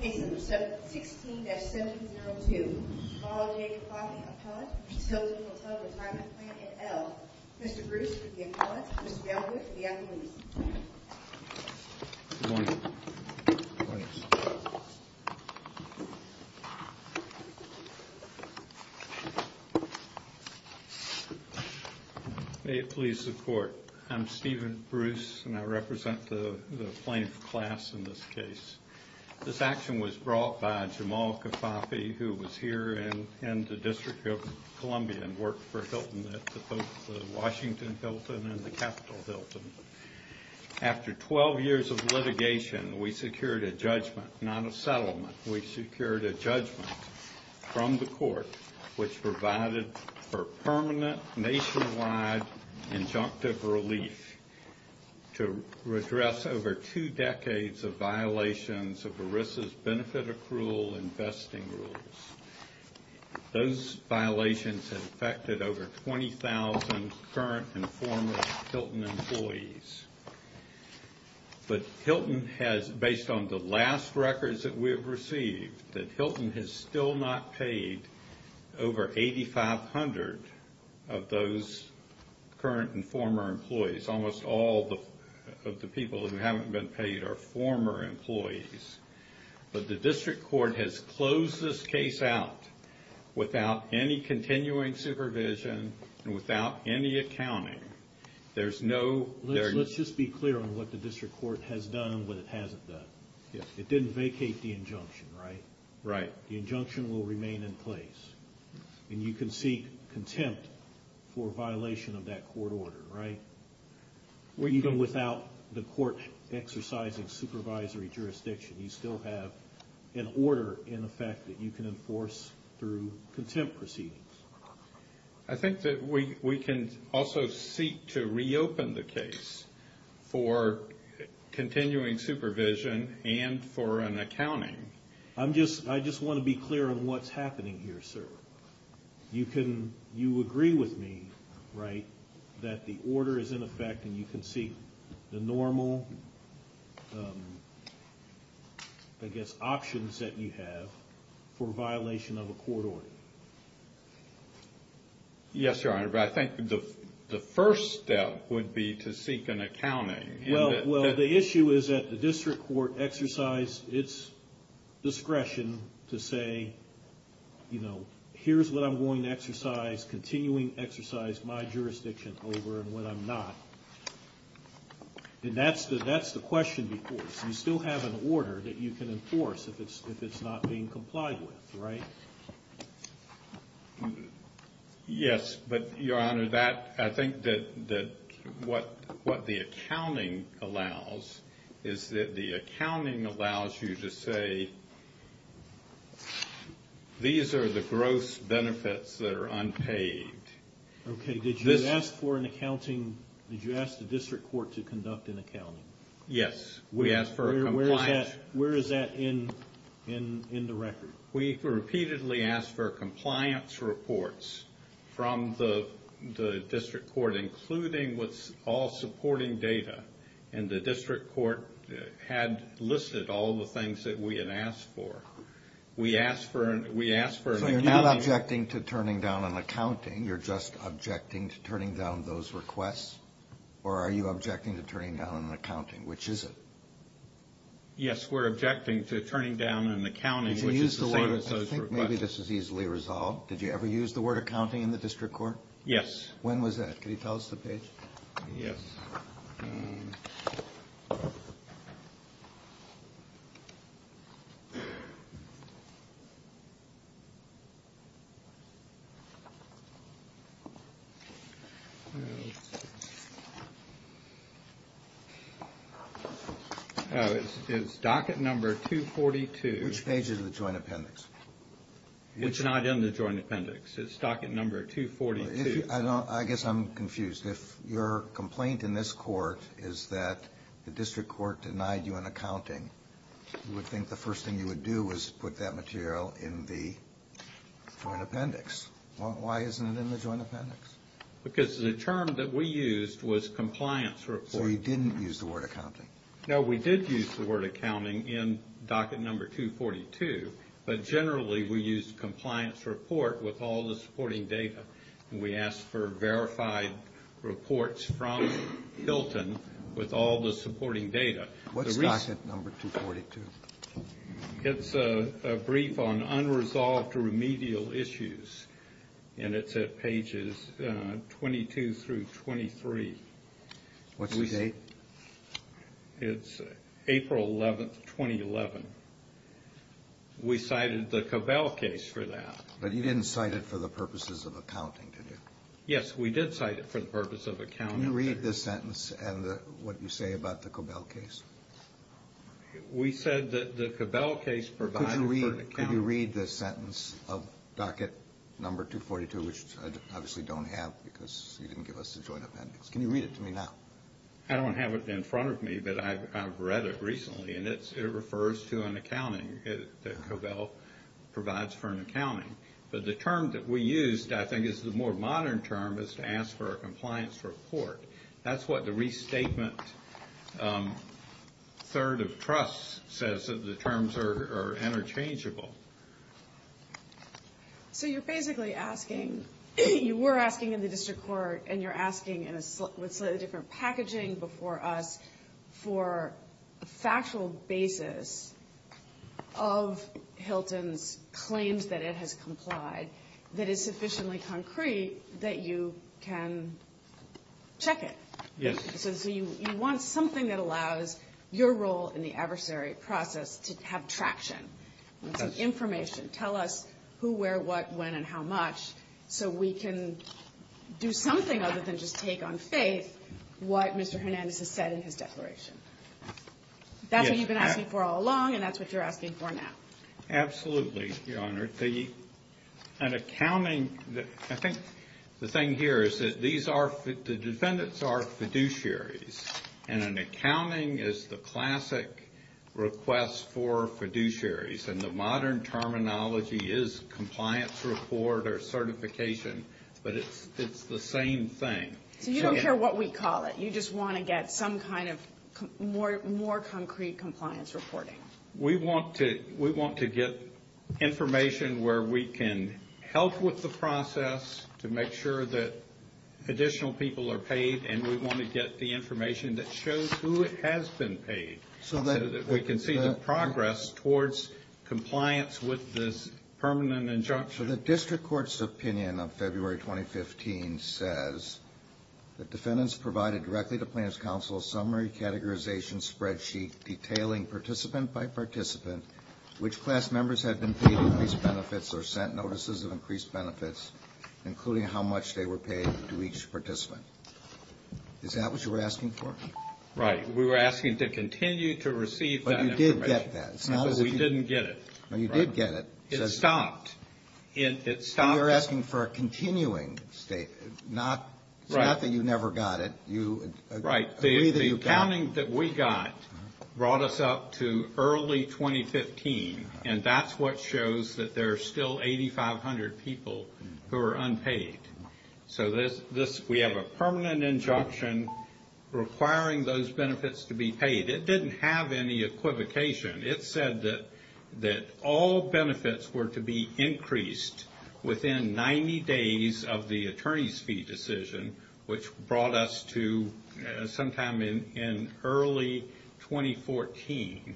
Case number 16-702, Malal Kifafi v. Hilton Hotel Retirement Plan at Elk. Mr. Bruce for the appellate, Ms. Melwood for the appellate. May it please the Court, I'm Stephen Bruce and I represent the plaintiff class in this case. This action was brought by Jamal Kifafi who was here in the District of Columbia and worked for Hilton at the Washington Hilton and the Capitol Hilton. After 12 years of litigation, we secured a judgment, not a settlement, we secured a judgment from the Court which provided for permanent nationwide injunctive relief to redress over two decades of violations of ERISA's benefit accrual investing rules. Those violations have affected over 20,000 current and former Hilton employees. But Hilton has, based on the last records that we have received, that Hilton has still not paid over 8,500 of those current and former employees. Almost all of the people who haven't been paid are former employees. But the District Court has closed this case out without any continuing supervision and without any accounting. There's no... Let's just be clear on what the District Court has done and what it hasn't done. It didn't vacate the injunction, right? Right. The injunction will remain in place and you can seek contempt for violation of that court order, right? Even without the court exercising supervisory jurisdiction, you still have an order in effect that you can enforce through contempt proceedings. I think that we can also seek to reopen the case for continuing supervision and for an accounting. I just want to be clear on what's happening here, sir. You agree with me, right, that the order is in effect and you can seek the normal, I guess, options that you have for violation of a court order? Yes, Your Honor, but I think the first step would be to seek an accounting. Well, the issue is that the District Court exercised its discretion to say, you know, here's what I'm going to exercise, continuing exercise my jurisdiction over and what I'm not. And that's the question before us. You still have an order that you can enforce if it's not being complied with, right? Yes, but, Your Honor, I think that what the accounting allows is that the accounting allows you to say, these are the gross benefits that are unpaid. Okay, did you ask for an accounting, did you ask the District Court to conduct an accounting? Yes, we asked for a compliance. Where is that in the record? We repeatedly asked for compliance reports from the District Court, including all supporting data. And the District Court had listed all the things that we had asked for. So you're not objecting to turning down an accounting, you're just objecting to turning down those requests? Or are you objecting to turning down an accounting, which is it? Yes, we're objecting to turning down an accounting, which is the same as those requests. I think maybe this is easily resolved. Did you ever use the word accounting in the District Court? Yes. When was that? Can you tell us the page? Yes. It's docket number 242. Which page is the joint appendix? It's not in the joint appendix, it's docket number 242. I guess I'm confused. If your complaint in this court is that the District Court denied you an accounting, you would think the first thing you would do is put that material in the joint appendix. Why isn't it in the joint appendix? Because the term that we used was compliance report. So you didn't use the word accounting? No, we did use the word accounting in docket number 242, but generally we used compliance report with all the supporting data. We asked for verified reports from Hilton with all the supporting data. What's docket number 242? It's a brief on unresolved remedial issues, and it's at pages 22 through 23. What's the date? It's April 11, 2011. We cited the Cobell case for that. But you didn't cite it for the purposes of accounting, did you? Yes, we did cite it for the purpose of accounting. Can you read the sentence and what you say about the Cobell case? We said that the Cobell case provided for accounting. Could you read the sentence of docket number 242, which I obviously don't have because you didn't give us the joint appendix. Can you read it to me now? I don't have it in front of me, but I've read it recently, and it refers to an accounting that Cobell provides for an accounting. But the term that we used, I think, is the more modern term, is to ask for a compliance report. That's what the restatement third of trust says that the terms are interchangeable. So you're basically asking, you were asking in the district court, and you're asking with slightly different packaging before us, for a factual basis of Hilton's claims that it has complied that is sufficiently concrete that you can check it. Yes. So you want something that allows your role in the adversary process to have traction. It's information. Tell us who, where, what, when, and how much, so we can do something other than just take on faith what Mr. Hernandez has said in his declaration. That's what you've been asking for all along, and that's what you're asking for now. Absolutely, Your Honor. An accounting, I think the thing here is that these are, the defendants are fiduciaries, and an accounting is the classic request for fiduciaries. And the modern terminology is compliance report or certification, but it's the same thing. So you don't care what we call it. You just want to get some kind of more concrete compliance reporting. We want to get information where we can help with the process to make sure that additional people are paid, and we want to get the information that shows who has been paid so that we can see the progress towards compliance with this permanent injunction. The district court's opinion of February 2015 says, the defendants provided directly to plaintiff's counsel a summary categorization spreadsheet detailing participant by participant which class members had been paid increased benefits or sent notices of increased benefits, including how much they were paid to each participant. Is that what you were asking for? Right. We were asking to continue to receive that information. But you did get that. We didn't get it. You did get it. It stopped. You're asking for a continuing state. It's not that you never got it. Right. The accounting that we got brought us up to early 2015, and that's what shows that there are still 8,500 people who are unpaid. So we have a permanent injunction requiring those benefits to be paid. It didn't have any equivocation. It said that all benefits were to be increased within 90 days of the attorney's fee decision, which brought us to sometime in early 2014.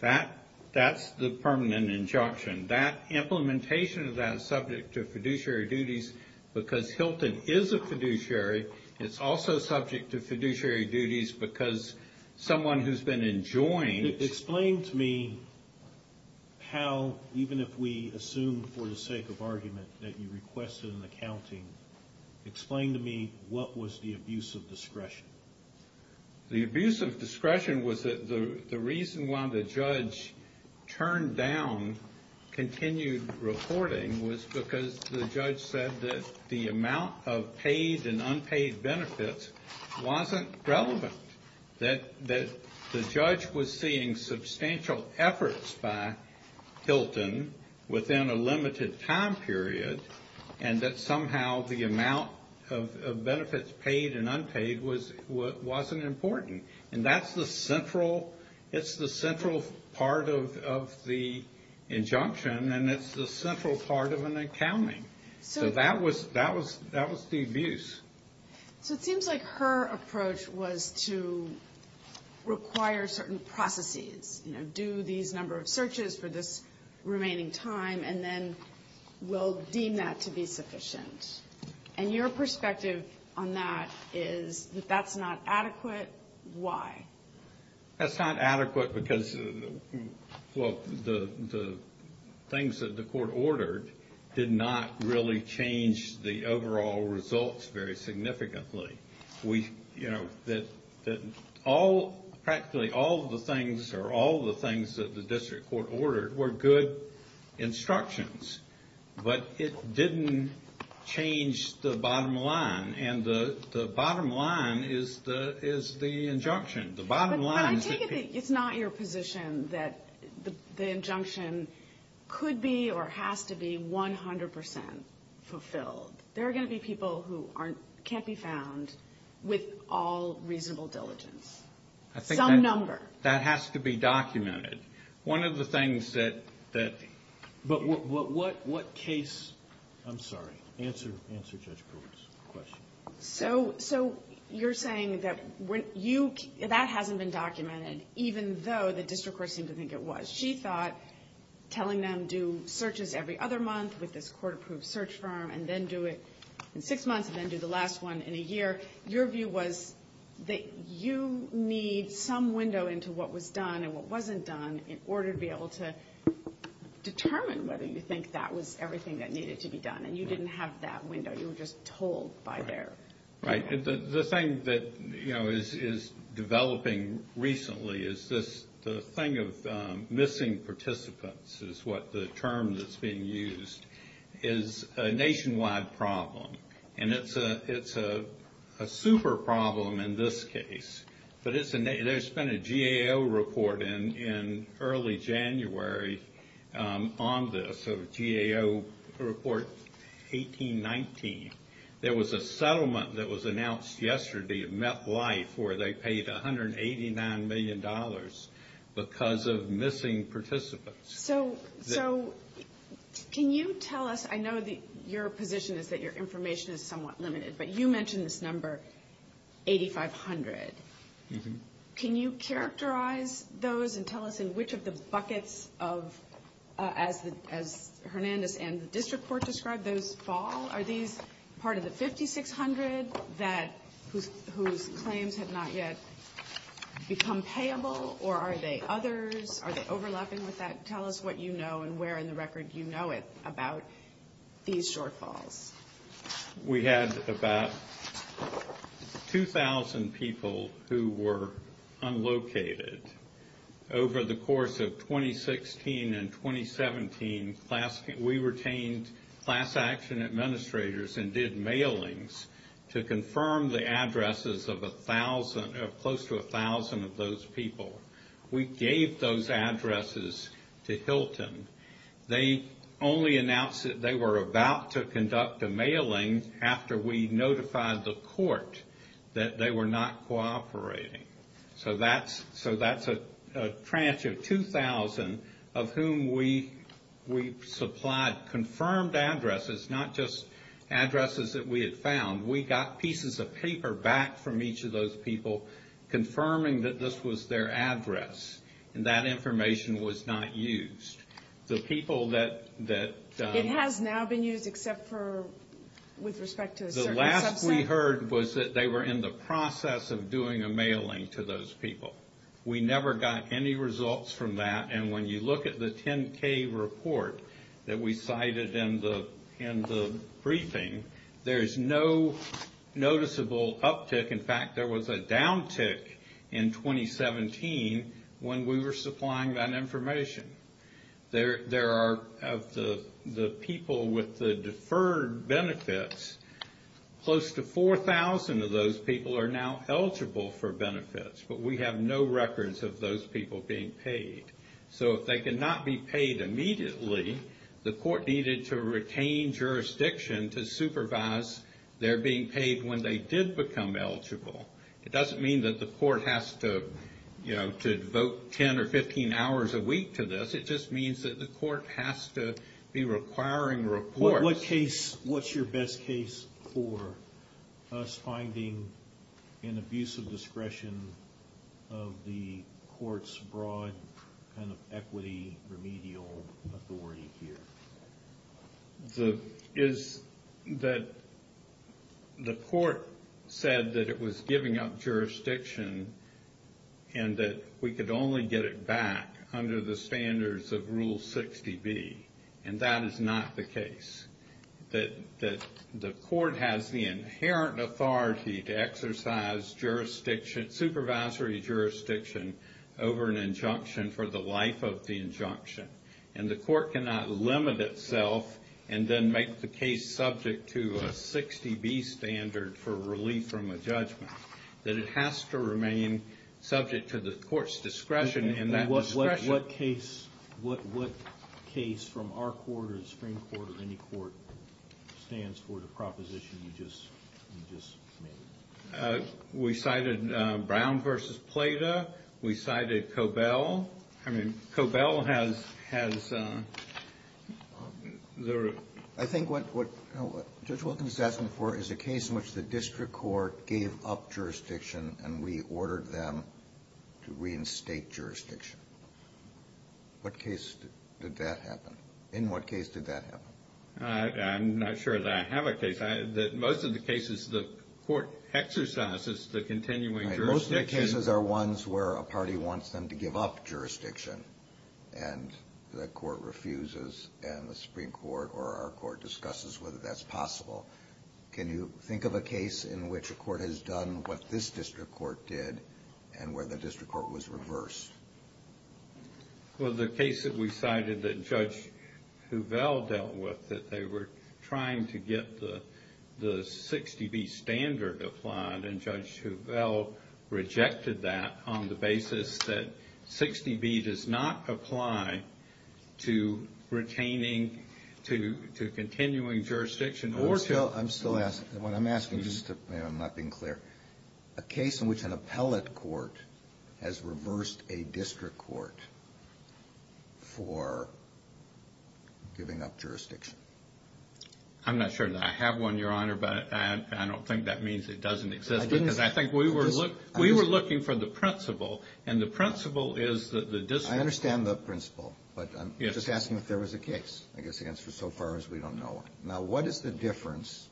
That's the permanent injunction. That implementation of that is subject to fiduciary duties because Hilton is a fiduciary. It's also subject to fiduciary duties because someone who's been enjoined. Explain to me how, even if we assume for the sake of argument, that you requested an accounting. Explain to me what was the abuse of discretion. The abuse of discretion was the reason why the judge turned down continued reporting was because the judge said that the amount of paid and unpaid benefits wasn't relevant. That the judge was seeing substantial efforts by Hilton within a limited time period, and that somehow the amount of benefits paid and unpaid wasn't important. And that's the central part of the injunction, and it's the central part of an accounting. So that was the abuse. So it seems like her approach was to require certain processes, do these number of searches for this remaining time, and then we'll deem that to be sufficient. And your perspective on that is that that's not adequate. Why? That's not adequate because the things that the court ordered did not really change the overall results very significantly. You know, practically all of the things or all of the things that the district court ordered were good instructions, but it didn't change the bottom line. And the bottom line is the injunction. The bottom line is the people. But I take it that it's not your position that the injunction could be or has to be 100% fulfilled. There are going to be people who can't be found with all reasonable diligence. Some number. I think that has to be documented. One of the things that – but what case – I'm sorry. Answer Judge Brewer's question. So you're saying that when you – that hasn't been documented, even though the district court seemed to think it was. She thought telling them, do searches every other month with this court-approved search firm and then do it in six months and then do the last one in a year. Your view was that you need some window into what was done and what wasn't done in order to be able to determine whether you think that was everything that needed to be done. And you didn't have that window. You were just told by their. Right. The thing that, you know, is developing recently is the thing of missing participants is what the term that's being used is a nationwide problem. And it's a super problem in this case. But there's been a GAO report in early January on this, a GAO report, 18-19. There was a settlement that was announced yesterday at MetLife They paid $189 million because of missing participants. So can you tell us – I know your position is that your information is somewhat limited, but you mentioned this number, 8,500. Can you characterize those and tell us in which of the buckets of, as Hernandez and the district court described, those fall? Are these part of the 5,600 whose claims have not yet become payable? Or are they others? Are they overlapping with that? Tell us what you know and where in the record you know it about these shortfalls. We had about 2,000 people who were unlocated. Over the course of 2016 and 2017, we retained class action administrators and did mailings to confirm the addresses of close to 1,000 of those people. We gave those addresses to Hilton. They only announced that they were about to conduct a mailing after we notified the court that they were not cooperating. So that's a tranche of 2,000 of whom we supplied confirmed addresses, not just addresses that we had found. We got pieces of paper back from each of those people confirming that this was their address, and that information was not used. The people that – It has now been used except for with respect to a certain subset? What we heard was that they were in the process of doing a mailing to those people. We never got any results from that, and when you look at the 10-K report that we cited in the briefing, there is no noticeable uptick. In fact, there was a downtick in 2017 when we were supplying that information. There are – of the people with the deferred benefits, close to 4,000 of those people are now eligible for benefits, but we have no records of those people being paid. So if they cannot be paid immediately, the court needed to retain jurisdiction to supervise their being paid when they did become eligible. It doesn't mean that the court has to devote 10 or 15 hours a week to this. It just means that the court has to be requiring reports. What's your best case for us finding an abuse of discretion of the court's broad kind of equity remedial authority here? The – is that the court said that it was giving up jurisdiction and that we could only get it back under the standards of Rule 60B, and that is not the case, that the court has the inherent authority to exercise jurisdiction – supervisory jurisdiction over an injunction for the life of the injunction, and the court cannot limit itself and then make the case subject to a 60B standard for relief from a judgment, that it has to remain subject to the court's discretion in that discretion. What case from our court or the Supreme Court or any court stands for the proposition you just made? We cited Brown v. Plata. We cited Cobell. Cobell? I mean, Cobell has the – I think what Judge Wilkins is asking for is a case in which the district court gave up jurisdiction and reordered them to reinstate jurisdiction. What case did that happen? In what case did that happen? I'm not sure that I have a case. Most of the cases the court exercises the continuing jurisdiction. Most of the cases are ones where a party wants them to give up jurisdiction, and the court refuses and the Supreme Court or our court discusses whether that's possible. Can you think of a case in which a court has done what this district court did and where the district court was reversed? Well, the case that we cited that Judge Hovell dealt with, that they were trying to get the 60B standard applied, and Judge Hovell rejected that on the basis that 60B does not apply to retaining, to continuing jurisdiction or to – I'm still asking. What I'm asking, just to – I'm not being clear. A case in which an appellate court has reversed a district court for giving up jurisdiction. I'm not sure that I have one, Your Honor, but I don't think that means it doesn't exist. Because I think we were looking for the principle, and the principle is that the district – I understand the principle, but I'm just asking if there was a case. I guess the answer so far is we don't know one. Now, what is the difference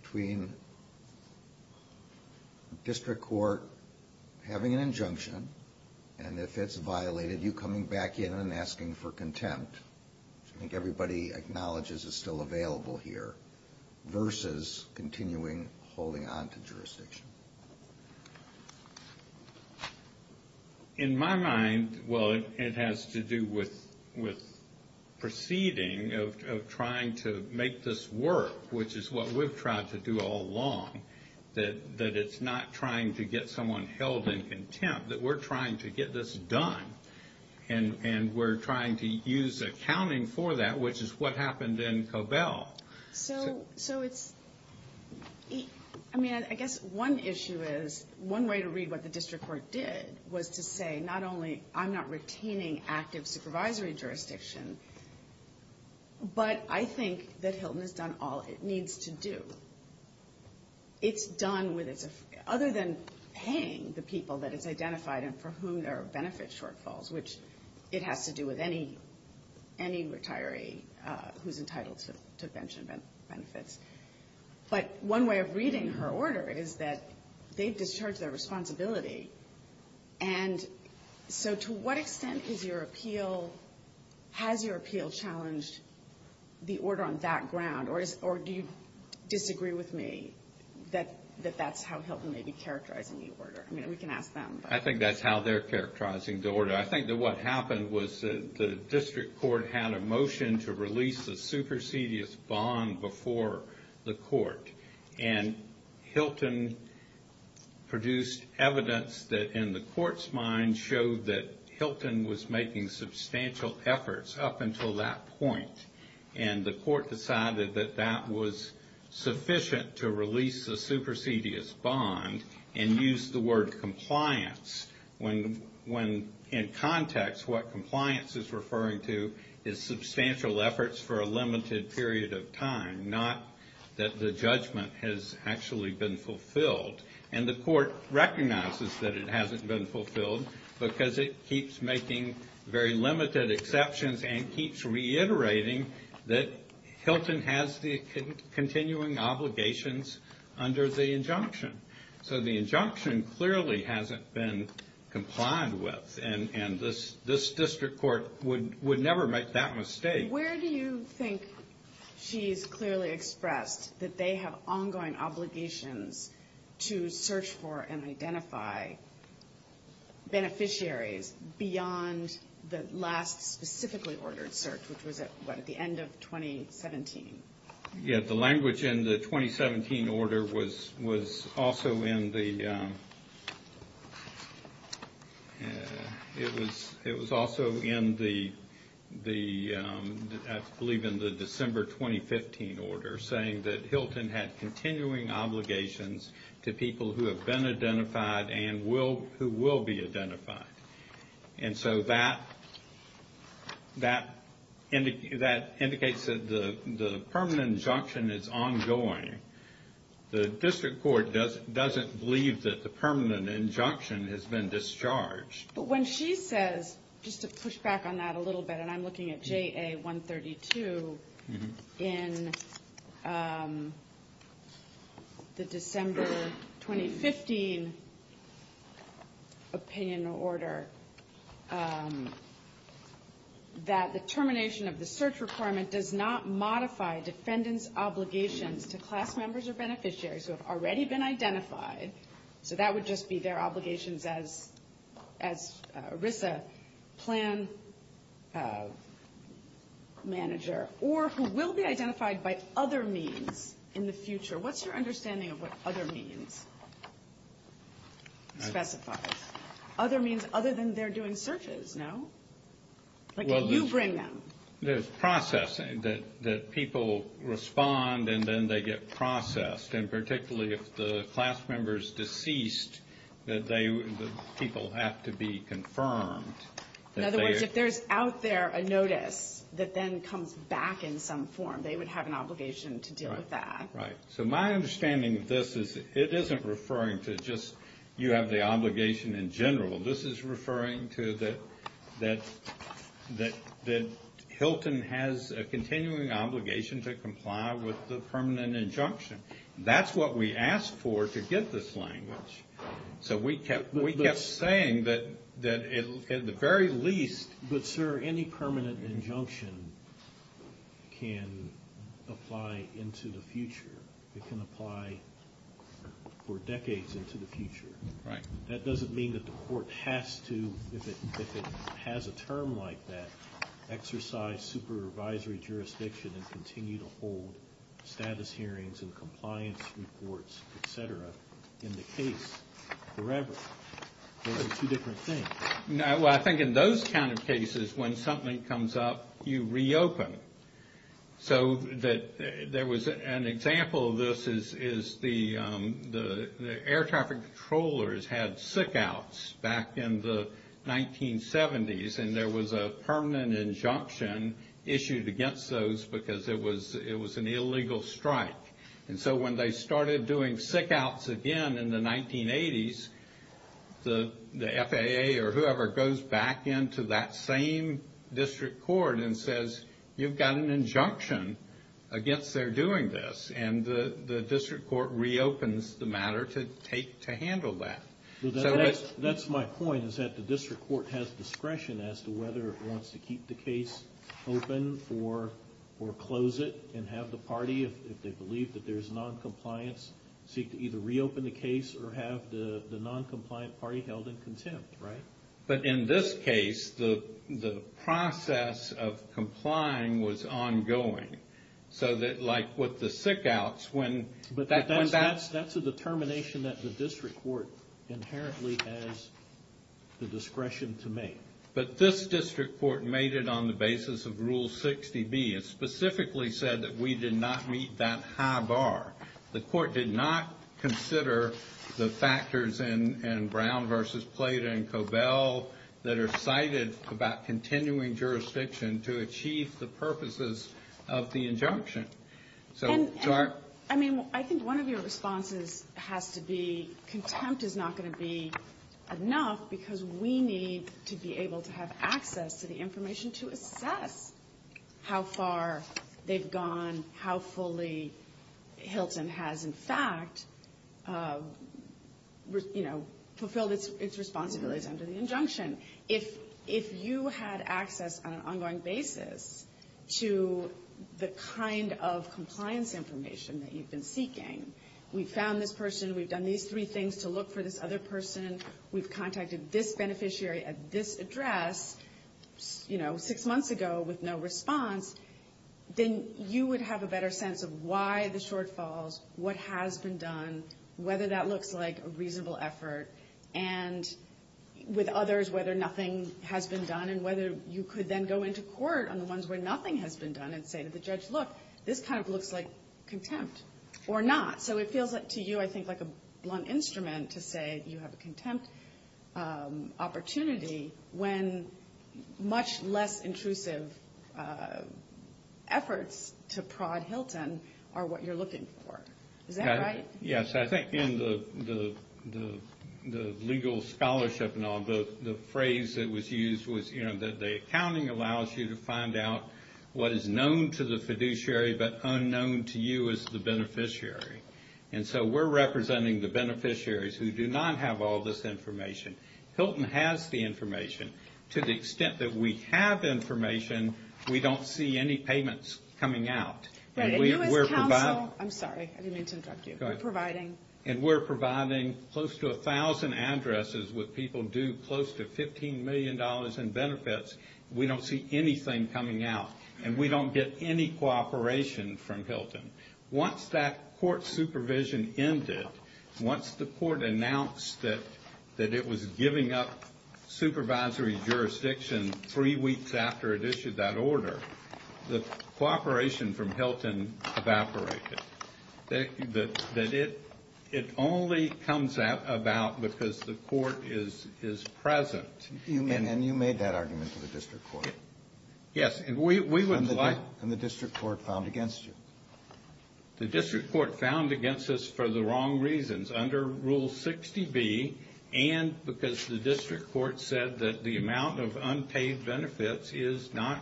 between a district court having an injunction, and if it's violated, you coming back in and asking for contempt? I think everybody acknowledges it's still available here, versus continuing holding on to jurisdiction. In my mind, well, it has to do with proceeding of trying to make this work, which is what we've tried to do all along, that it's not trying to get someone held in contempt, that we're trying to get this done, and we're trying to use accounting for that, which is what happened in Cobell. So it's – I mean, I guess one issue is – one way to read what the district court did was to say not only I'm not retaining active supervisory jurisdiction, but I think that Hilton has done all it needs to do. It's done with – other than paying the people that it's identified and for whom there are benefit shortfalls, which it has to do with any retiree who's entitled to pension benefits. But one way of reading her order is that they've discharged their responsibility. And so to what extent is your appeal – has your appeal challenged the order on that ground, or do you disagree with me that that's how Hilton may be characterizing the order? I mean, we can ask them. I think that's how they're characterizing the order. I think that what happened was the district court had a motion to release the supersedious bond before the court. And Hilton produced evidence that, in the court's mind, showed that Hilton was making substantial efforts up until that point. And the court decided that that was sufficient to release the supersedious bond and used the word compliance when, in context, what compliance is referring to is substantial efforts for a limited period of time, not that the judgment has actually been fulfilled. And the court recognizes that it hasn't been fulfilled because it keeps making very limited exceptions and keeps reiterating that Hilton has the continuing obligations under the injunction. So the injunction clearly hasn't been complied with, and this district court would never make that mistake. Where do you think she's clearly expressed that they have ongoing obligations to search for and identify beneficiaries beyond the last specifically ordered search, which was at the end of 2017? The language in the 2017 order was also in the December 2015 order, saying that Hilton had continuing obligations to people who have been identified And so that indicates that the permanent injunction is ongoing. The district court doesn't believe that the permanent injunction has been discharged. But when she says, just to push back on that a little bit, and I'm looking at JA 132 in the December 2015 opinion order, that the termination of the search requirement does not modify defendant's obligations to class members or beneficiaries who have already been identified. So that would just be their obligations as ERISA plan manager, or who will be identified by other means in the future. What's your understanding of what other means specifies? Other means other than they're doing searches, no? Like you bring them. There's processing, that people respond and then they get processed. And particularly if the class member is deceased, people have to be confirmed. In other words, if there's out there a notice that then comes back in some form, they would have an obligation to deal with that. Right. So my understanding of this is it isn't referring to just you have the obligation in general. This is referring to that Hilton has a continuing obligation to comply with the permanent injunction. That's what we asked for to get this language. So we kept saying that at the very least. But, sir, any permanent injunction can apply into the future. It can apply for decades into the future. Right. That doesn't mean that the court has to, if it has a term like that, exercise supervisory jurisdiction and continue to hold status hearings and compliance reports, et cetera, in the case forever. Those are two different things. Well, I think in those kind of cases, when something comes up, you reopen. So there was an example of this is the air traffic controllers had sick outs back in the 1970s, and there was a permanent injunction issued against those because it was an illegal strike. And so when they started doing sick outs again in the 1980s, the FAA or whoever goes back into that same district court and says, you've got an injunction against their doing this. And the district court reopens the matter to handle that. That's my point, is that the district court has discretion as to whether it wants to keep the case open or close it and have the party, if they believe that there's noncompliance, seek to either reopen the case or have the noncompliant party held in contempt. But in this case, the process of complying was ongoing. So that, like with the sick outs, when that— But that's a determination that the district court inherently has the discretion to make. But this district court made it on the basis of Rule 60B. It specifically said that we did not meet that high bar. The court did not consider the factors in Brown v. Plata and Cobell that are cited about continuing jurisdiction to achieve the purposes of the injunction. And, I mean, I think one of your responses has to be contempt is not going to be enough because we need to be able to have access to the information to assess how far they've gone, how fully Hilton has, in fact, you know, fulfilled its responsibilities under the injunction. If you had access on an ongoing basis to the kind of compliance information that you've been seeking, we found this person, we've done these three things to look for this other person, we've contacted this beneficiary at this address, you know, six months ago with no response, then you would have a better sense of why the shortfalls, what has been done, whether that looks like a reasonable effort, and with others whether nothing has been done and whether you could then go into court on the ones where nothing has been done and say to the judge, look, this kind of looks like contempt or not. So it feels to you, I think, like a blunt instrument to say you have a contempt opportunity when much less intrusive efforts to prod Hilton are what you're looking for. Is that right? Yes. I think in the legal scholarship and all, the phrase that was used was, you know, that the accounting allows you to find out what is known to the fiduciary but unknown to you as the beneficiary. And so we're representing the beneficiaries who do not have all this information. Hilton has the information. To the extent that we have information, we don't see any payments coming out. Right. And you as counsel, I'm sorry, I didn't mean to interrupt you. Go ahead. We're providing. And we're providing close to 1,000 addresses with people due close to $15 million in benefits. We don't see anything coming out, and we don't get any cooperation from Hilton. Once that court supervision ended, once the court announced that it was giving up supervisory jurisdiction three weeks after it issued that order, the cooperation from Hilton evaporated. It only comes about because the court is present. And you made that argument to the district court. Yes. And the district court found against you. The district court found against us for the wrong reasons, under Rule 60B, and because the district court said that the amount of unpaid benefits is not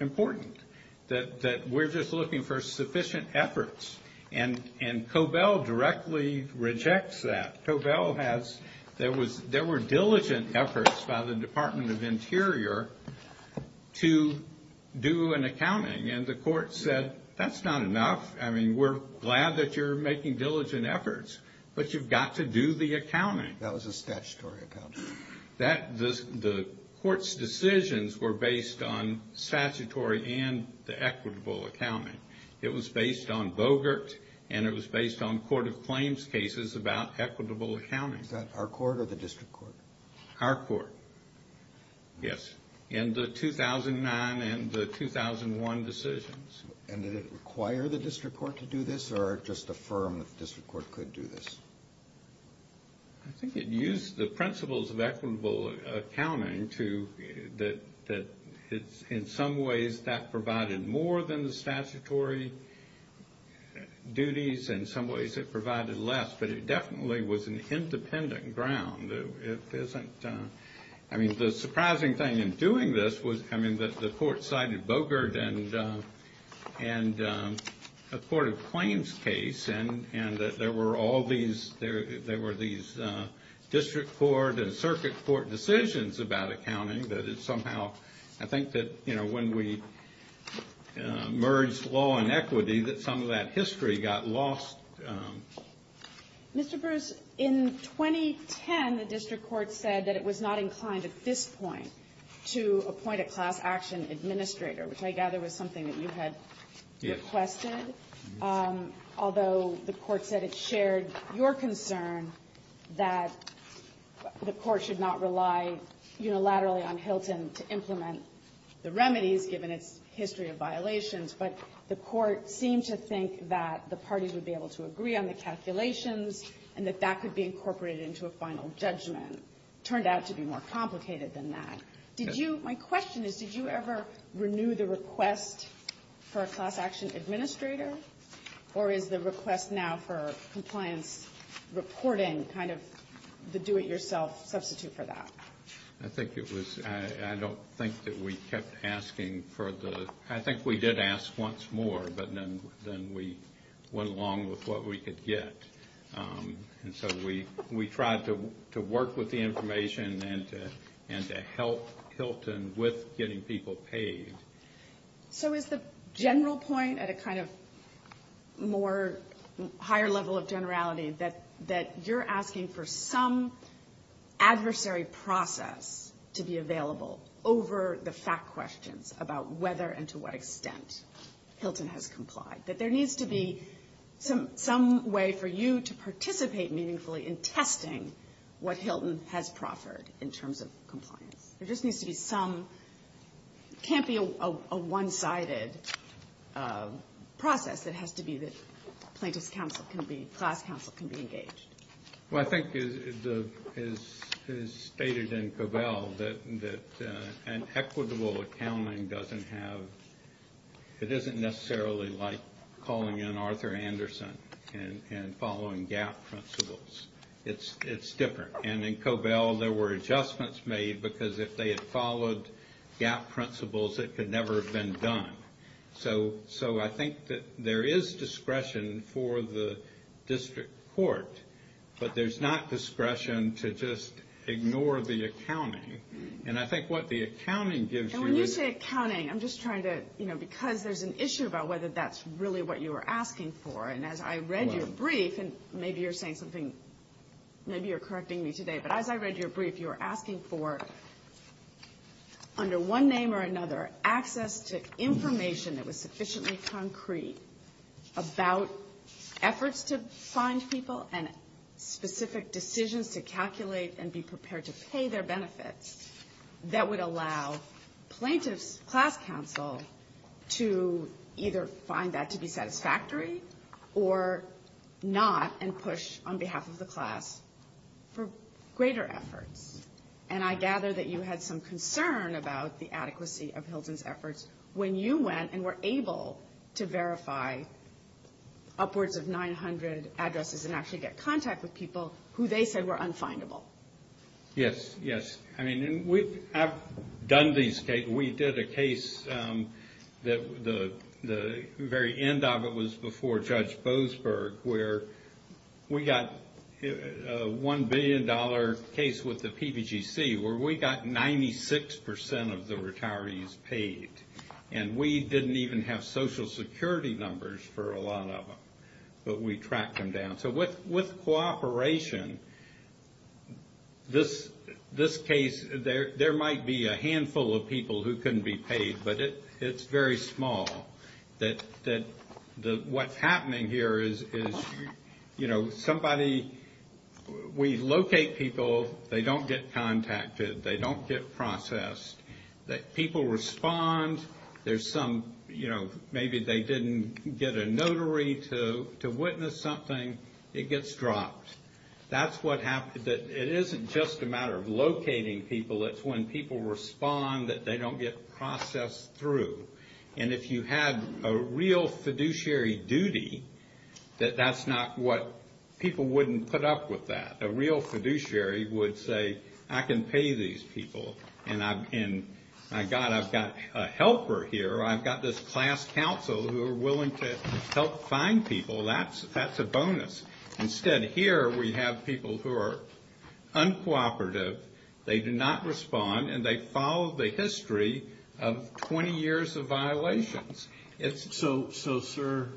important, that we're just looking for sufficient efforts. And Cobell directly rejects that. Cobell has. There were diligent efforts by the Department of Interior to do an accounting, and the court said, that's not enough. I mean, we're glad that you're making diligent efforts, but you've got to do the accounting. That was a statutory accounting. The court's decisions were based on statutory and the equitable accounting. It was based on Bogert, and it was based on Court of Claims cases about equitable accounting. Was that our court or the district court? Our court. Yes. In the 2009 and the 2001 decisions. And did it require the district court to do this, or just affirm that the district court could do this? I think it used the principles of equitable accounting to, that in some ways, that provided more than the statutory duties. In some ways, it provided less, but it definitely was an independent ground. I mean, the surprising thing in doing this was, I mean, the court cited Bogert and the Court of Claims case, and there were all these district court and circuit court decisions about accounting. That it somehow, I think that, you know, when we merged law and equity, that some of that history got lost. Mr. Bruce, in 2010, the district court said that it was not inclined at this point to appoint a class action administrator, which I gather was something that you had requested. Yes. Although the court said it shared your concern that the court should not rely unilaterally on Hilton to implement the remedies, given its history of violations, but the court seemed to think that the parties would be able to agree on the calculations and that that could be incorporated into a final judgment. It turned out to be more complicated than that. My question is, did you ever renew the request for a class action administrator, or is the request now for compliance reporting kind of the do-it-yourself substitute for that? I think it was. I don't think that we kept asking for the... I think we did ask once more, but then we went along with what we could get. And so we tried to work with the information and to help Hilton with getting people paid. So is the general point at a kind of more higher level of generality that you're asking for some adversary process to be available over the fact questions about whether and to what extent Hilton has complied, that there needs to be some way for you to participate meaningfully in testing what Hilton has proffered in terms of compliance? There just needs to be some... It can't be a one-sided process. It has to be that plaintiff's counsel can be... class counsel can be engaged. Well, I think it is stated in Covell that an equitable accounting doesn't have... calling in Arthur Anderson and following GAP principles. It's different. And in Covell, there were adjustments made because if they had followed GAP principles, it could never have been done. So I think that there is discretion for the district court, but there's not discretion to just ignore the accounting. And I think what the accounting gives you is... And when you say accounting, I'm just trying to... And as I read your brief, and maybe you're saying something... Maybe you're correcting me today. But as I read your brief, you were asking for, under one name or another, access to information that was sufficiently concrete about efforts to find people and specific decisions to calculate and be prepared to pay their benefits that would allow plaintiff's class counsel to either find that to be satisfactory or not and push on behalf of the class for greater efforts. And I gather that you had some concern about the adequacy of Hilton's efforts when you went and were able to verify upwards of 900 addresses and actually get contact with people who they said were unfindable. Yes, yes. I mean, I've done these cases. We did a case that the very end of it was before Judge Boasberg where we got a $1 billion case with the PPGC where we got 96% of the retirees paid. And we didn't even have Social Security numbers for a lot of them. But we tracked them down. So with cooperation, this case, there might be a handful of people who couldn't be paid, but it's very small. What's happening here is, you know, somebody, we locate people. They don't get contacted. They don't get processed. People respond. There's some, you know, maybe they didn't get a notary to witness something. It gets dropped. That's what happens. It isn't just a matter of locating people. It's when people respond that they don't get processed through. And if you had a real fiduciary duty, that's not what people wouldn't put up with that. A real fiduciary would say, I can pay these people. And I've got a helper here. I've got this class counsel who are willing to help find people. That's a bonus. Instead, here we have people who are uncooperative. They do not respond. And they follow the history of 20 years of violations. So, sir,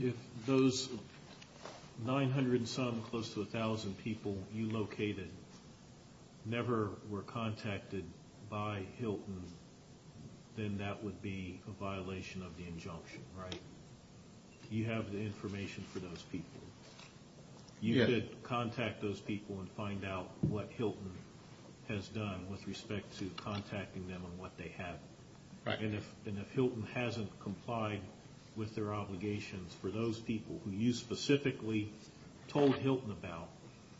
if those 900 and some close to 1,000 people you located never were contacted by Hilton, then that would be a violation of the injunction, right? You have the information for those people. You could contact those people and find out what Hilton has done with respect to contacting them and what they have. And if Hilton hasn't complied with their obligations for those people who you specifically told Hilton about,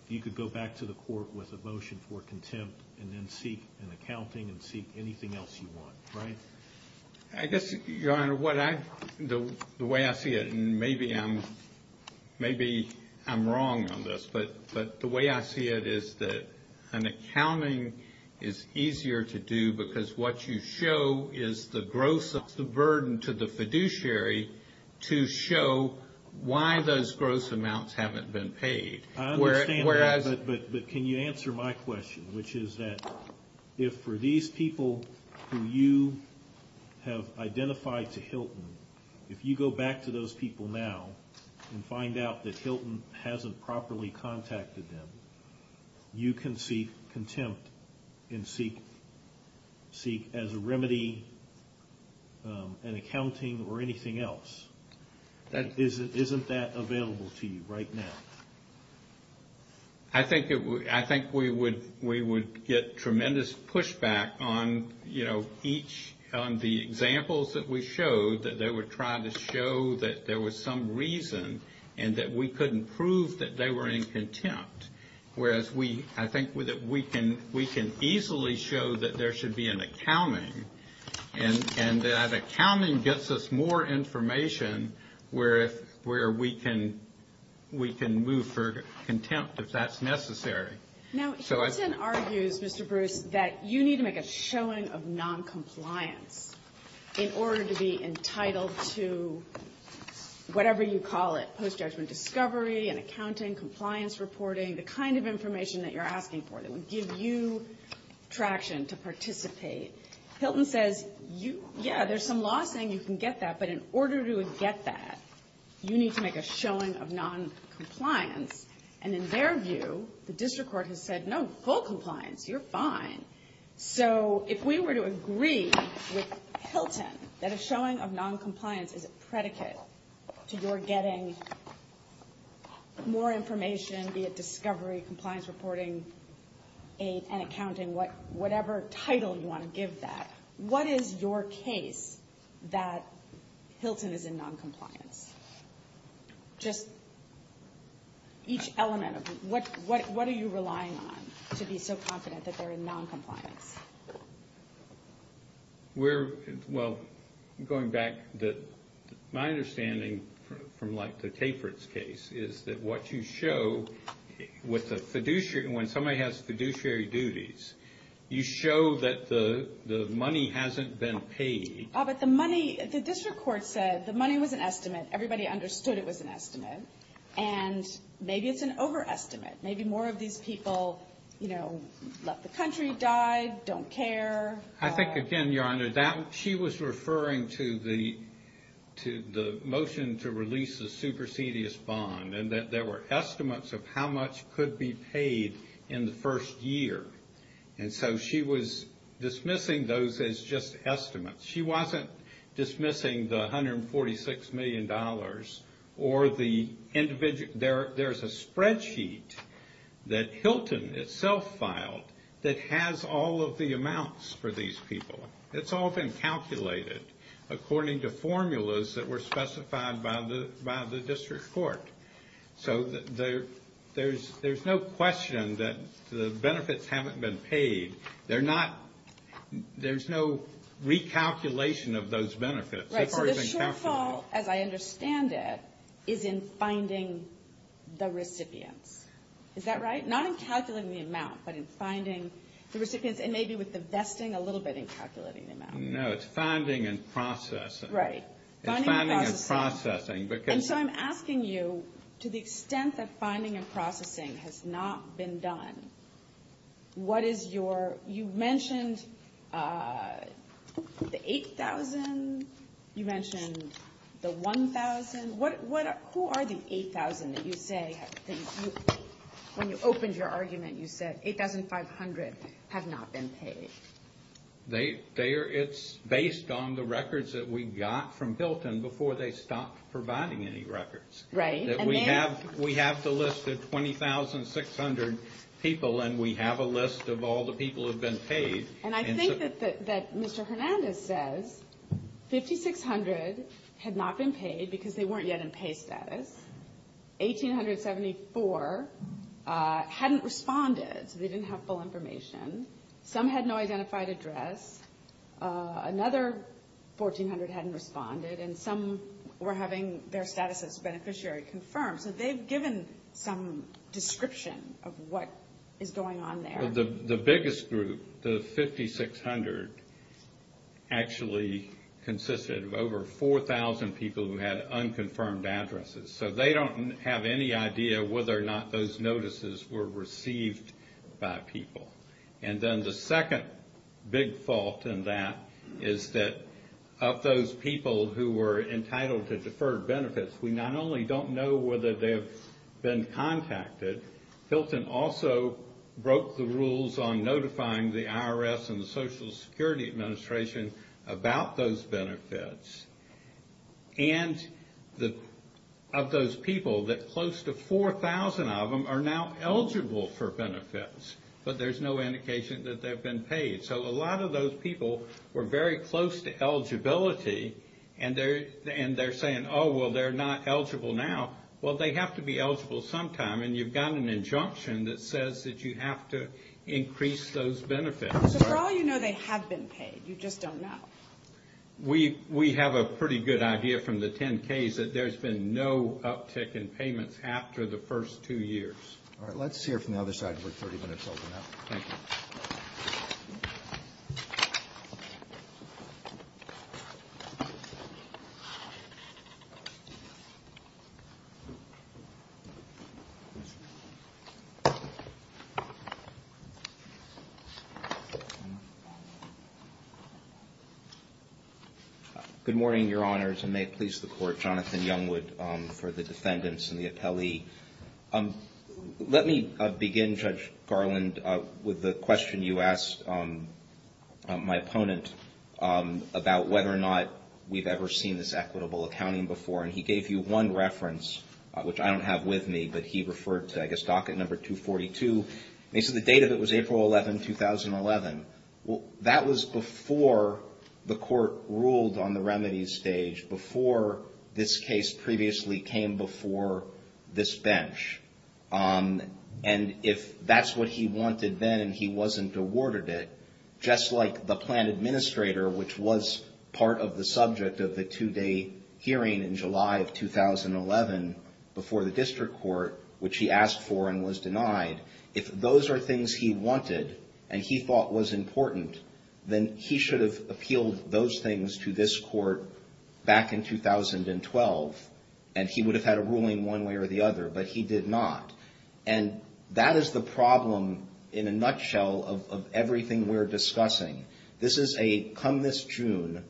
you could go back to the court with a motion for contempt and then seek an accounting and seek anything else you want, right? I guess, Your Honor, the way I see it, and maybe I'm wrong on this, but the way I see it is that an accounting is easier to do because what you show is the gross of the burden to the fiduciary to show why those gross amounts haven't been paid. I understand that, but can you answer my question, which is that if for these people who you have identified to Hilton, if you go back to those people now and find out that Hilton hasn't properly contacted them, you can seek contempt and seek as a remedy an accounting or anything else. Isn't that available to you right now? I think we would get tremendous pushback on, you know, each on the examples that we showed that they were trying to show that there was some reason and that we couldn't prove that they were in contempt, whereas I think we can easily show that there should be an accounting and that accounting gets us more information where we can move for contempt if that's necessary. Now, Hilton argues, Mr. Bruce, that you need to make a showing of noncompliance in order to be entitled to whatever you call it, post-judgment discovery and accounting, compliance reporting, the kind of information that you're asking for, that would give you traction to participate. Hilton says, yeah, there's some law saying you can get that, but in order to get that, you need to make a showing of noncompliance. And in their view, the district court has said, no, full compliance, you're fine. So if we were to agree with Hilton that a showing of noncompliance is a predicate to your getting more information, be it discovery, compliance reporting, and accounting, whatever title you want to give that, what is your case that Hilton is in noncompliance? Just each element of it. What are you relying on to be so confident that they're in noncompliance? Well, going back, my understanding from, like, the Tapert's case is that what you show, when somebody has fiduciary duties, you show that the money hasn't been paid. But the money, the district court said the money was an estimate. Everybody understood it was an estimate. And maybe it's an overestimate. Maybe more of these people, you know, left the country, died, don't care. I think, again, Your Honor, she was referring to the motion to release the supersedious bond and that there were estimates of how much could be paid in the first year. And so she was dismissing those as just estimates. She wasn't dismissing the $146 million or the individual. There's a spreadsheet that Hilton itself filed that has all of the amounts for these people. It's all been calculated according to formulas that were specified by the district court. So there's no question that the benefits haven't been paid. There's no recalculation of those benefits. Right, so the shortfall, as I understand it, is in finding the recipients. Is that right? Not in calculating the amount, but in finding the recipients and maybe with the vesting a little bit in calculating the amount. No, it's finding and processing. Right, finding and processing. And so I'm asking you, to the extent that finding and processing has not been done, you mentioned the $8,000. You mentioned the $1,000. Who are the $8,000 that you say, when you opened your argument, you said $8,500 have not been paid? It's based on the records that we got from Hilton before they stopped providing any records. Right. We have the list of 20,600 people, and we have a list of all the people who have been paid. And I think that Mr. Hernandez says 5,600 had not been paid because they weren't yet in pay status. 1,874 hadn't responded, so they didn't have full information. Some had no identified address. Another 1,400 hadn't responded, and some were having their status as beneficiary confirmed. So they've given some description of what is going on there. The biggest group, the 5,600, actually consisted of over 4,000 people who had unconfirmed addresses. So they don't have any idea whether or not those notices were received by people. And then the second big fault in that is that of those people who were entitled to deferred benefits, we not only don't know whether they've been contacted. Hilton also broke the rules on notifying the IRS and the Social Security Administration about those benefits. And of those people, that close to 4,000 of them are now eligible for benefits. But there's no indication that they've been paid. So a lot of those people were very close to eligibility, and they're saying, oh, well, they're not eligible now. Well, they have to be eligible sometime. And you've got an injunction that says that you have to increase those benefits. So for all you know, they have been paid. You just don't know. We have a pretty good idea from the 10-Ks that there's been no uptick in payments after the first two years. All right. Let's hear from the other side. We're 30 minutes over now. Thank you. Good morning, Your Honors, and may it please the Court. Jonathan Youngwood for the defendants and the appellee. Let me begin, Judge Garland, with the question you asked my opponent about whether or not we've ever seen this equitable accounting before. And he gave you one reference, which I don't have with me, but he referred to, I guess, docket number 242. And he said the date of it was April 11, 2011. That was before the Court ruled on the remedies stage, before this case previously came before this bench. And if that's what he wanted then and he wasn't awarded it, just like the plan administrator, which was part of the subject of the two-day hearing in July of 2011 before the district court, which he asked for and was denied, if those are things he wanted and he thought was important, then he should have appealed those things to this court back in 2012. And he would have had a ruling one way or the other, but he did not. And that is the problem, in a nutshell, of everything we're discussing. This is a come this June,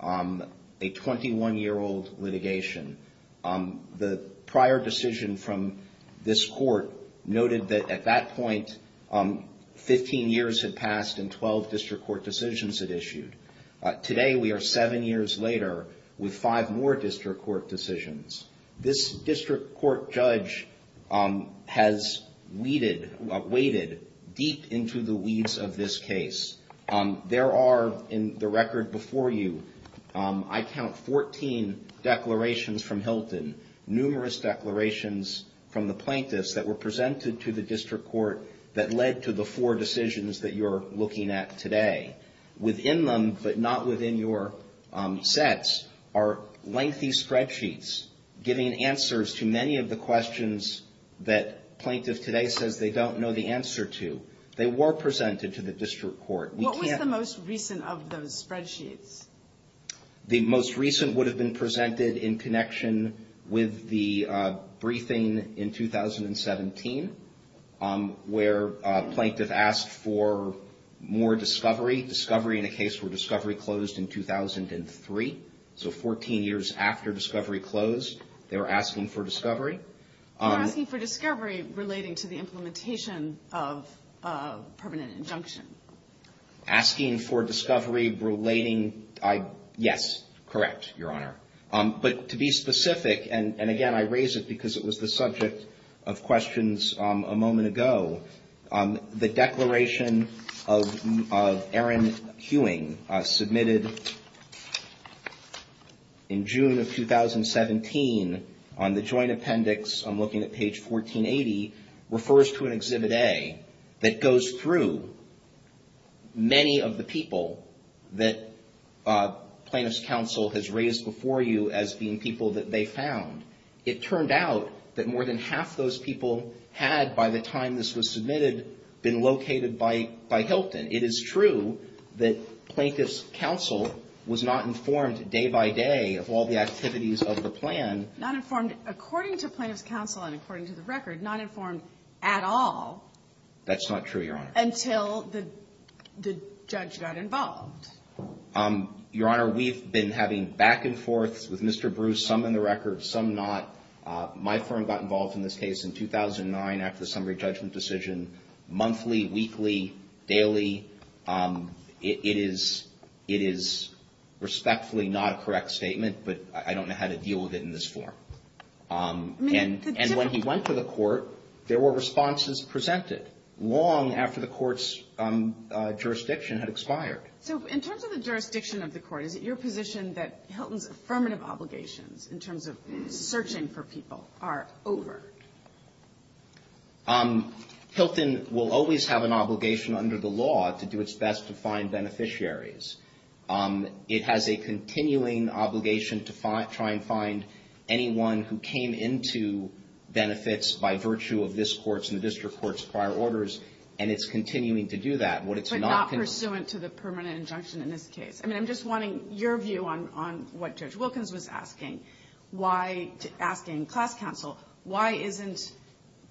a 21-year-old litigation. The prior decision from this court noted that at that point 15 years had passed and 12 district court decisions had issued. Today we are seven years later with five more district court decisions. This district court judge has weeded, waded deep into the weeds of this case. There are in the record before you, I count 14 declarations from Hilton, numerous declarations from the plaintiffs that were presented to the district court that led to the four decisions that you're looking at today. Within them, but not within your sets, are lengthy spreadsheets giving answers to many of the questions that plaintiff today says they don't know the answer to. They were presented to the district court. What was the most recent of those spreadsheets? The most recent would have been presented in connection with the briefing in 2017, where a plaintiff asked for more discovery. Discovery in a case where discovery closed in 2003, so 14 years after discovery closed, they were asking for discovery. They were asking for discovery relating to the implementation of permanent injunction. Asking for discovery relating, yes, correct, Your Honor. But to be specific, and again, I raise it because it was the subject of questions a moment ago, the declaration of Aaron Hewing submitted in June of 2017 on the joint appendix, I'm looking at page 1480, refers to an Exhibit A that goes through many of the people that plaintiff's counsel has raised before you as being people that they found. It turned out that more than half those people had, by the time this was submitted, been located by Hilton. It is true that plaintiff's counsel was not informed day by day of all the activities of the plan. Not informed, according to plaintiff's counsel and according to the record, not informed at all. That's not true, Your Honor. Until the judge got involved. Your Honor, we've been having back and forth with Mr. Bruce, some in the record, some not. My firm got involved in this case in 2009 after the summary judgment decision, monthly, weekly, daily. It is respectfully not a correct statement, but I don't know how to deal with it in this form. And when he went to the court, there were responses presented long after the court's jurisdiction had expired. So in terms of the jurisdiction of the court, is it your position that Hilton's affirmative obligations in terms of searching for people are over? Hilton will always have an obligation under the law to do its best to find beneficiaries. It has a continuing obligation to try and find anyone who came into benefits by virtue of this court's and the district court's prior orders, and it's continuing to do that. But not pursuant to the permanent injunction in this case. I mean, I'm just wanting your view on what Judge Wilkins was asking. Asking class counsel, why isn't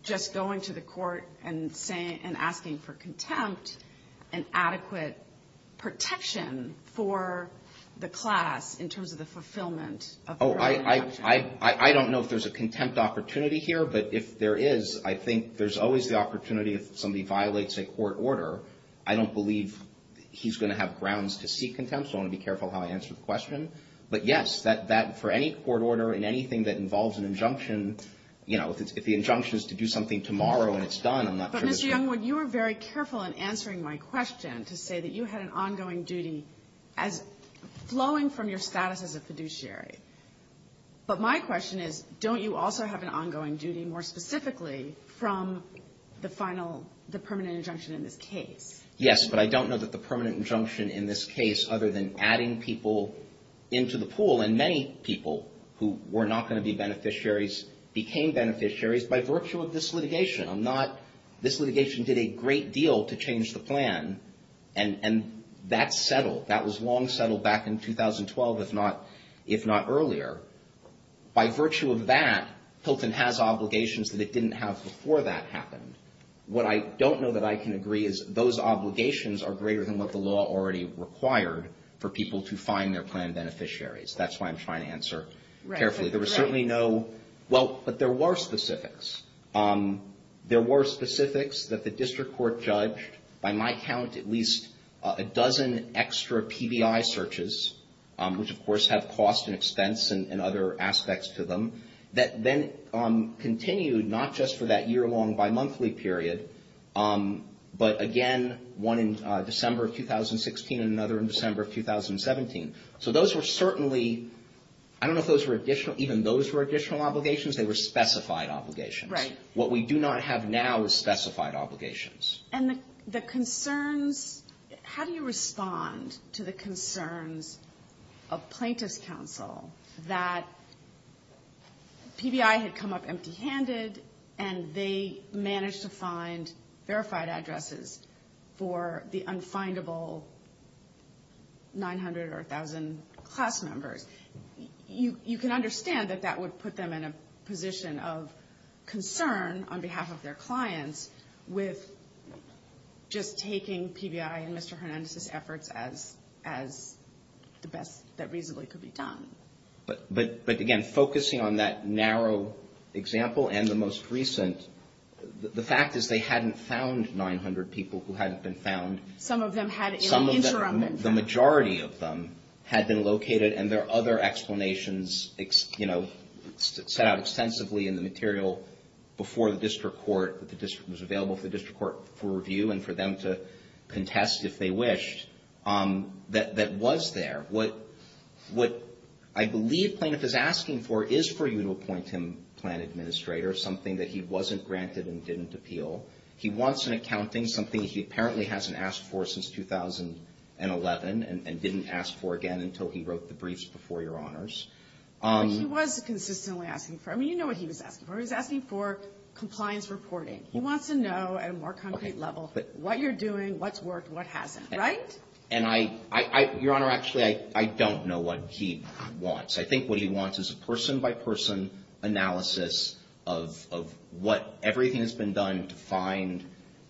just going to the court and asking for contempt and adequate protection for the class in terms of the fulfillment of the permanent injunction? I don't know if there's a contempt opportunity here, but if there is, I think there's always the opportunity if somebody violates a court order, I don't believe he's going to have grounds to seek contempt. So I want to be careful how I answer the question. But, yes, that for any court order and anything that involves an injunction, you know, if the injunction is to do something tomorrow and it's done, I'm not sure that's going to happen. But, Mr. Youngwood, you were very careful in answering my question to say that you had an ongoing duty as flowing from your status as a fiduciary. But my question is, don't you also have an ongoing duty more specifically from the final, the permanent injunction in this case? Yes, but I don't know that the permanent injunction in this case, other than adding people into the pool, and many people who were not going to be beneficiaries became beneficiaries by virtue of this litigation. I'm not, this litigation did a great deal to change the plan, and that's settled. That was long settled back in 2012, if not earlier. By virtue of that, Hilton has obligations that it didn't have before that happened. What I don't know that I can agree is those obligations are greater than what the law already required for people to find their plan beneficiaries. That's why I'm trying to answer carefully. There were certainly no, well, but there were specifics. There were specifics that the district court judged. By my count, at least a dozen extra PBI searches, which, of course, have cost and expense and other aspects to them, that then continued not just for that year-long bimonthly period, but again, one in December of 2016 and another in December of 2017. So those were certainly, I don't know if those were additional, even those were additional obligations. They were specified obligations. What we do not have now is specified obligations. And the concerns, how do you respond to the concerns of plaintiff's counsel that PBI had come up empty-handed and they managed to find verified addresses for the unfindable 900 or 1,000 class members? You can understand that that would put them in a position of concern on behalf of their clients with just taking PBI and Mr. Hernandez's efforts as the best that reasonably could be done. But again, focusing on that narrow example and the most recent, the fact is they hadn't found 900 people who hadn't been found. The majority of them had been located, and there are other explanations, you know, set out extensively in the material before the district court, that was available for the district court for review and for them to contest if they wished, that was there. What I believe plaintiff is asking for is for you to appoint him plan administrator, something that he wasn't granted and didn't appeal. He wants an accounting, something he apparently hasn't asked for since 2011 and didn't ask for again until he wrote the briefs before, Your Honors. But he was consistently asking for it. I mean, you know what he was asking for. He was asking for compliance reporting. He wants to know at a more concrete level what you're doing, what's worked, what hasn't. Right? And I, Your Honor, actually, I don't know what he wants. I think what he wants is a person-by-person analysis of what everything has been done to find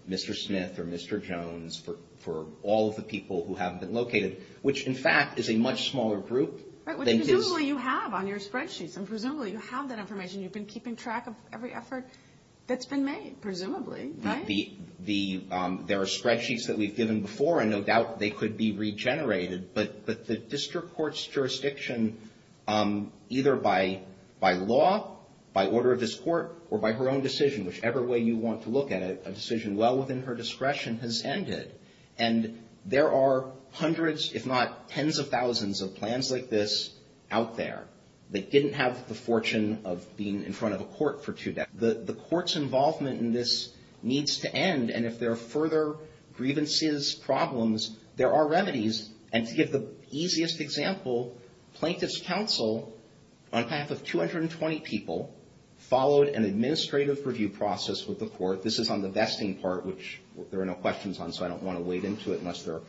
Mr. Smith or Mr. Jones for all of the people who haven't been located, which, in fact, is a much smaller group than his. Right, which presumably you have on your spreadsheets, and presumably you have that information. You've been keeping track of every effort that's been made, presumably, right? There are spreadsheets that we've given before, and no doubt they could be regenerated, but the district court's jurisdiction, either by law, by order of this court, or by her own decision, whichever way you want to look at it, a decision well within her discretion, has ended. And there are hundreds, if not tens of thousands, of plans like this out there that didn't have the fortune of being in front of a court for two decades. The court's involvement in this needs to end, and if there are further grievances, problems, there are remedies, and to give the easiest example, Plaintiff's Counsel, on behalf of 220 people, followed an administrative review process with the court. This is on the vesting part, which there are no questions on, so I don't want to wade into it unless there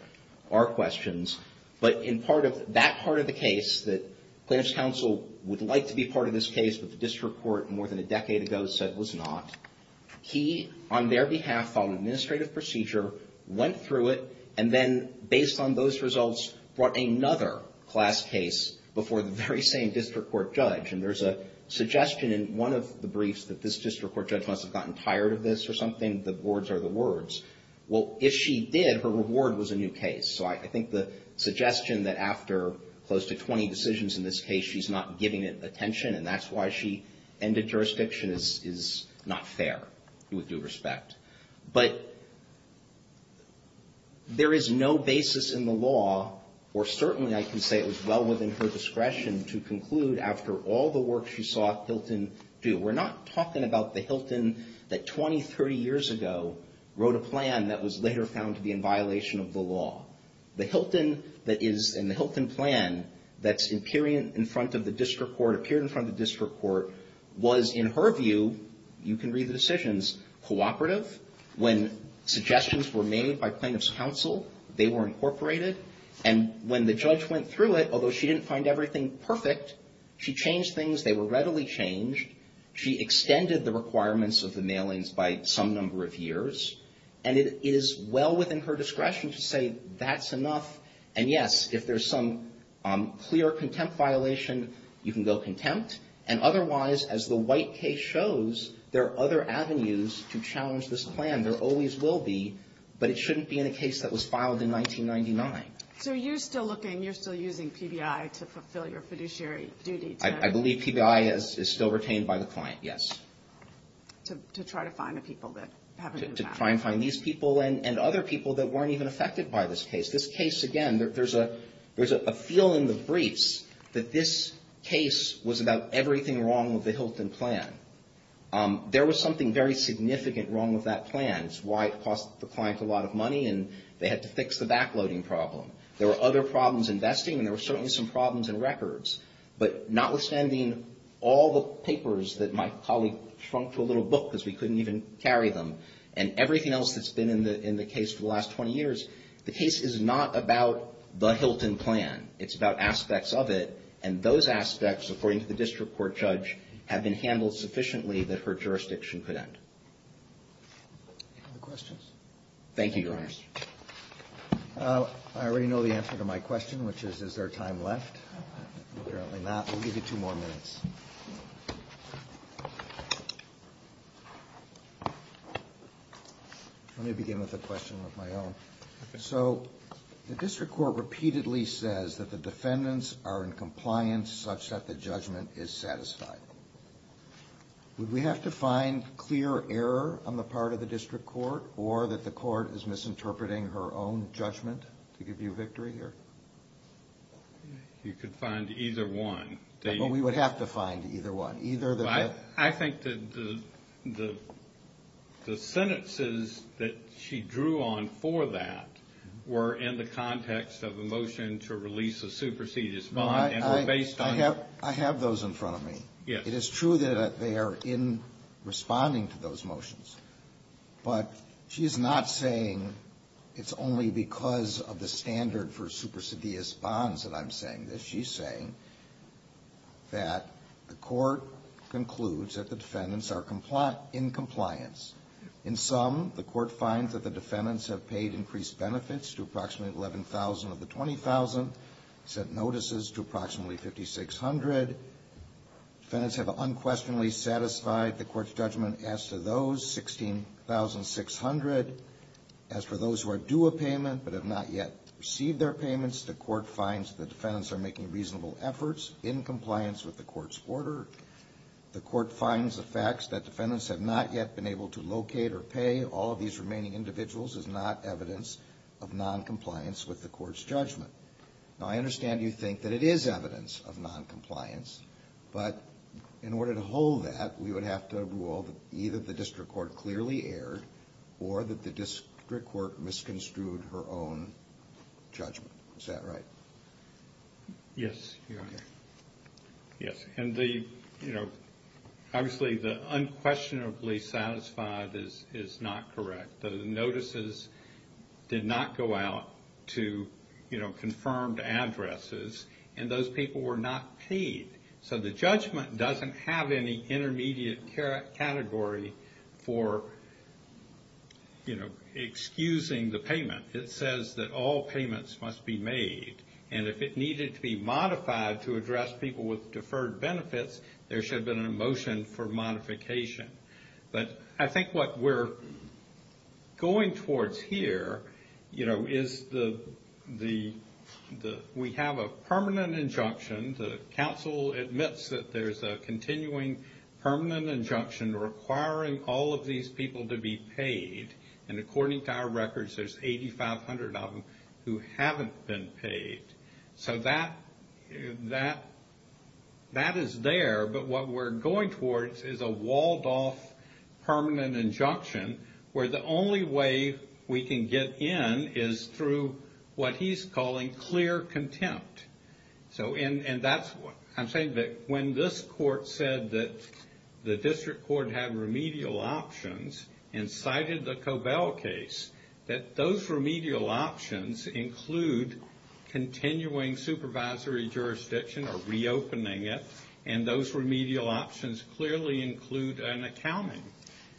are questions. But in part of that part of the case that Plaintiff's Counsel would like to be part of this case, but the district court more than a decade ago said was not, he, on their behalf, followed an administrative procedure, went through it, and then based on those results, brought another class case before the very same district court judge. And there's a suggestion in one of the briefs that this district court judge must have gotten tired of this or something, the words are the words. Well, if she did, her reward was a new case. So I think the suggestion that after close to 20 decisions in this case, she's not giving it attention, and that's why she ended jurisdiction is not fair with due respect. But there is no basis in the law, or certainly I can say it was well within her discretion, to conclude after all the work she saw Hilton do. We're not talking about the Hilton that 20, 30 years ago wrote a plan that was later found to be in violation of the law. The Hilton that is in the Hilton plan that's appearing in front of the district court, appeared in front of the district court, was in her view, you can read the decisions, cooperative. When suggestions were made by plaintiff's counsel, they were incorporated. And when the judge went through it, although she didn't find everything perfect, she changed things. They were readily changed. She extended the requirements of the mailings by some number of years. And it is well within her discretion to say that's enough. And yes, if there's some clear contempt violation, you can go contempt. And otherwise, as the White case shows, there are other avenues to challenge this plan. There always will be. But it shouldn't be in a case that was filed in 1999. So you're still looking, you're still using PBI to fulfill your fiduciary duty. I believe PBI is still retained by the client, yes. To try to find the people that haven't been found. To try and find these people and other people that weren't even affected by this case. This case, again, there's a feeling in the briefs that this case was about everything wrong with the Hilton plan. There was something very significant wrong with that plan. It's why it cost the client a lot of money, and they had to fix the backloading problem. There were other problems in vesting, and there were certainly some problems in records. But notwithstanding all the papers that my colleague shrunk to a little book because we couldn't even carry them, and everything else that's been in the case for the last 20 years, the case is not about the Hilton plan. It's about aspects of it, and those aspects, according to the district court judge, have been handled sufficiently that her jurisdiction could end. Any other questions? Thank you, Your Honors. I already know the answer to my question, which is, is there time left? Apparently not. We'll give you two more minutes. Let me begin with a question of my own. So the district court repeatedly says that the defendants are in compliance such that the judgment is satisfied. Would we have to find clear error on the part of the district court, or that the court is misinterpreting her own judgment to give you victory here? You could find either one. We would have to find either one. I think that the sentences that she drew on for that were in the context of a motion to release a supersedious bond. I have those in front of me. It is true that they are in responding to those motions. But she is not saying it's only because of the standard for supersedious bonds that I'm saying this. She's saying that the court concludes that the defendants are in compliance. In sum, the court finds that the defendants have paid increased benefits to approximately 11,000 of the 20,000, sent notices to approximately 5,600. Defendants have unquestionably satisfied the court's judgment. As to those, 16,600. As for those who are due a payment but have not yet received their payments, the court finds the defendants are making reasonable efforts in compliance with the court's order. The court finds the facts that defendants have not yet been able to locate or pay. All of these remaining individuals is not evidence of noncompliance with the court's judgment. Now, I understand you think that it is evidence of noncompliance. But in order to hold that, we would have to rule that either the district court clearly erred or that the district court misconstrued her own judgment. Is that right? Yes. Yes. Obviously, the unquestionably satisfied is not correct. The notices did not go out to confirmed addresses. And those people were not paid. So the judgment doesn't have any intermediate category for, you know, excusing the payment. It says that all payments must be made. And if it needed to be modified to address people with deferred benefits, there should have been a motion for modification. But I think what we're going towards here, you know, is we have a permanent injunction. The council admits that there's a continuing permanent injunction requiring all of these people to be paid. And according to our records, there's 8,500 of them who haven't been paid. So that is there, but what we're going towards is a walled-off permanent injunction where the only way we can get in is through what he's calling clear contempt. And I'm saying that when this court said that the district court had remedial options and cited the Cobell case, that those remedial options include continuing supervisory jurisdiction or reopening it, and those remedial options clearly include an accounting.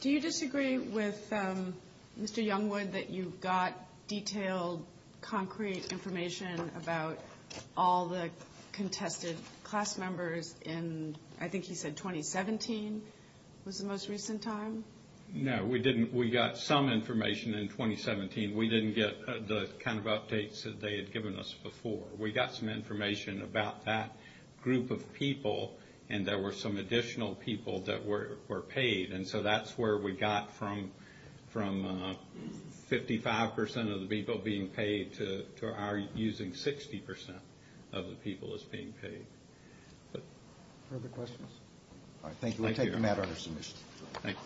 Do you disagree with Mr. Youngwood that you got detailed, concrete information about all the contested class members in, I think he said, 2017 was the most recent time? No, we didn't. We got some information in 2017. We didn't get the kind of updates that they had given us before. We got some information about that group of people, and there were some additional people that were paid. And so that's where we got from 55% of the people being paid to our using 60% of the people as being paid. Further questions? All right, thank you. We'll take the matter under submission. Thank you.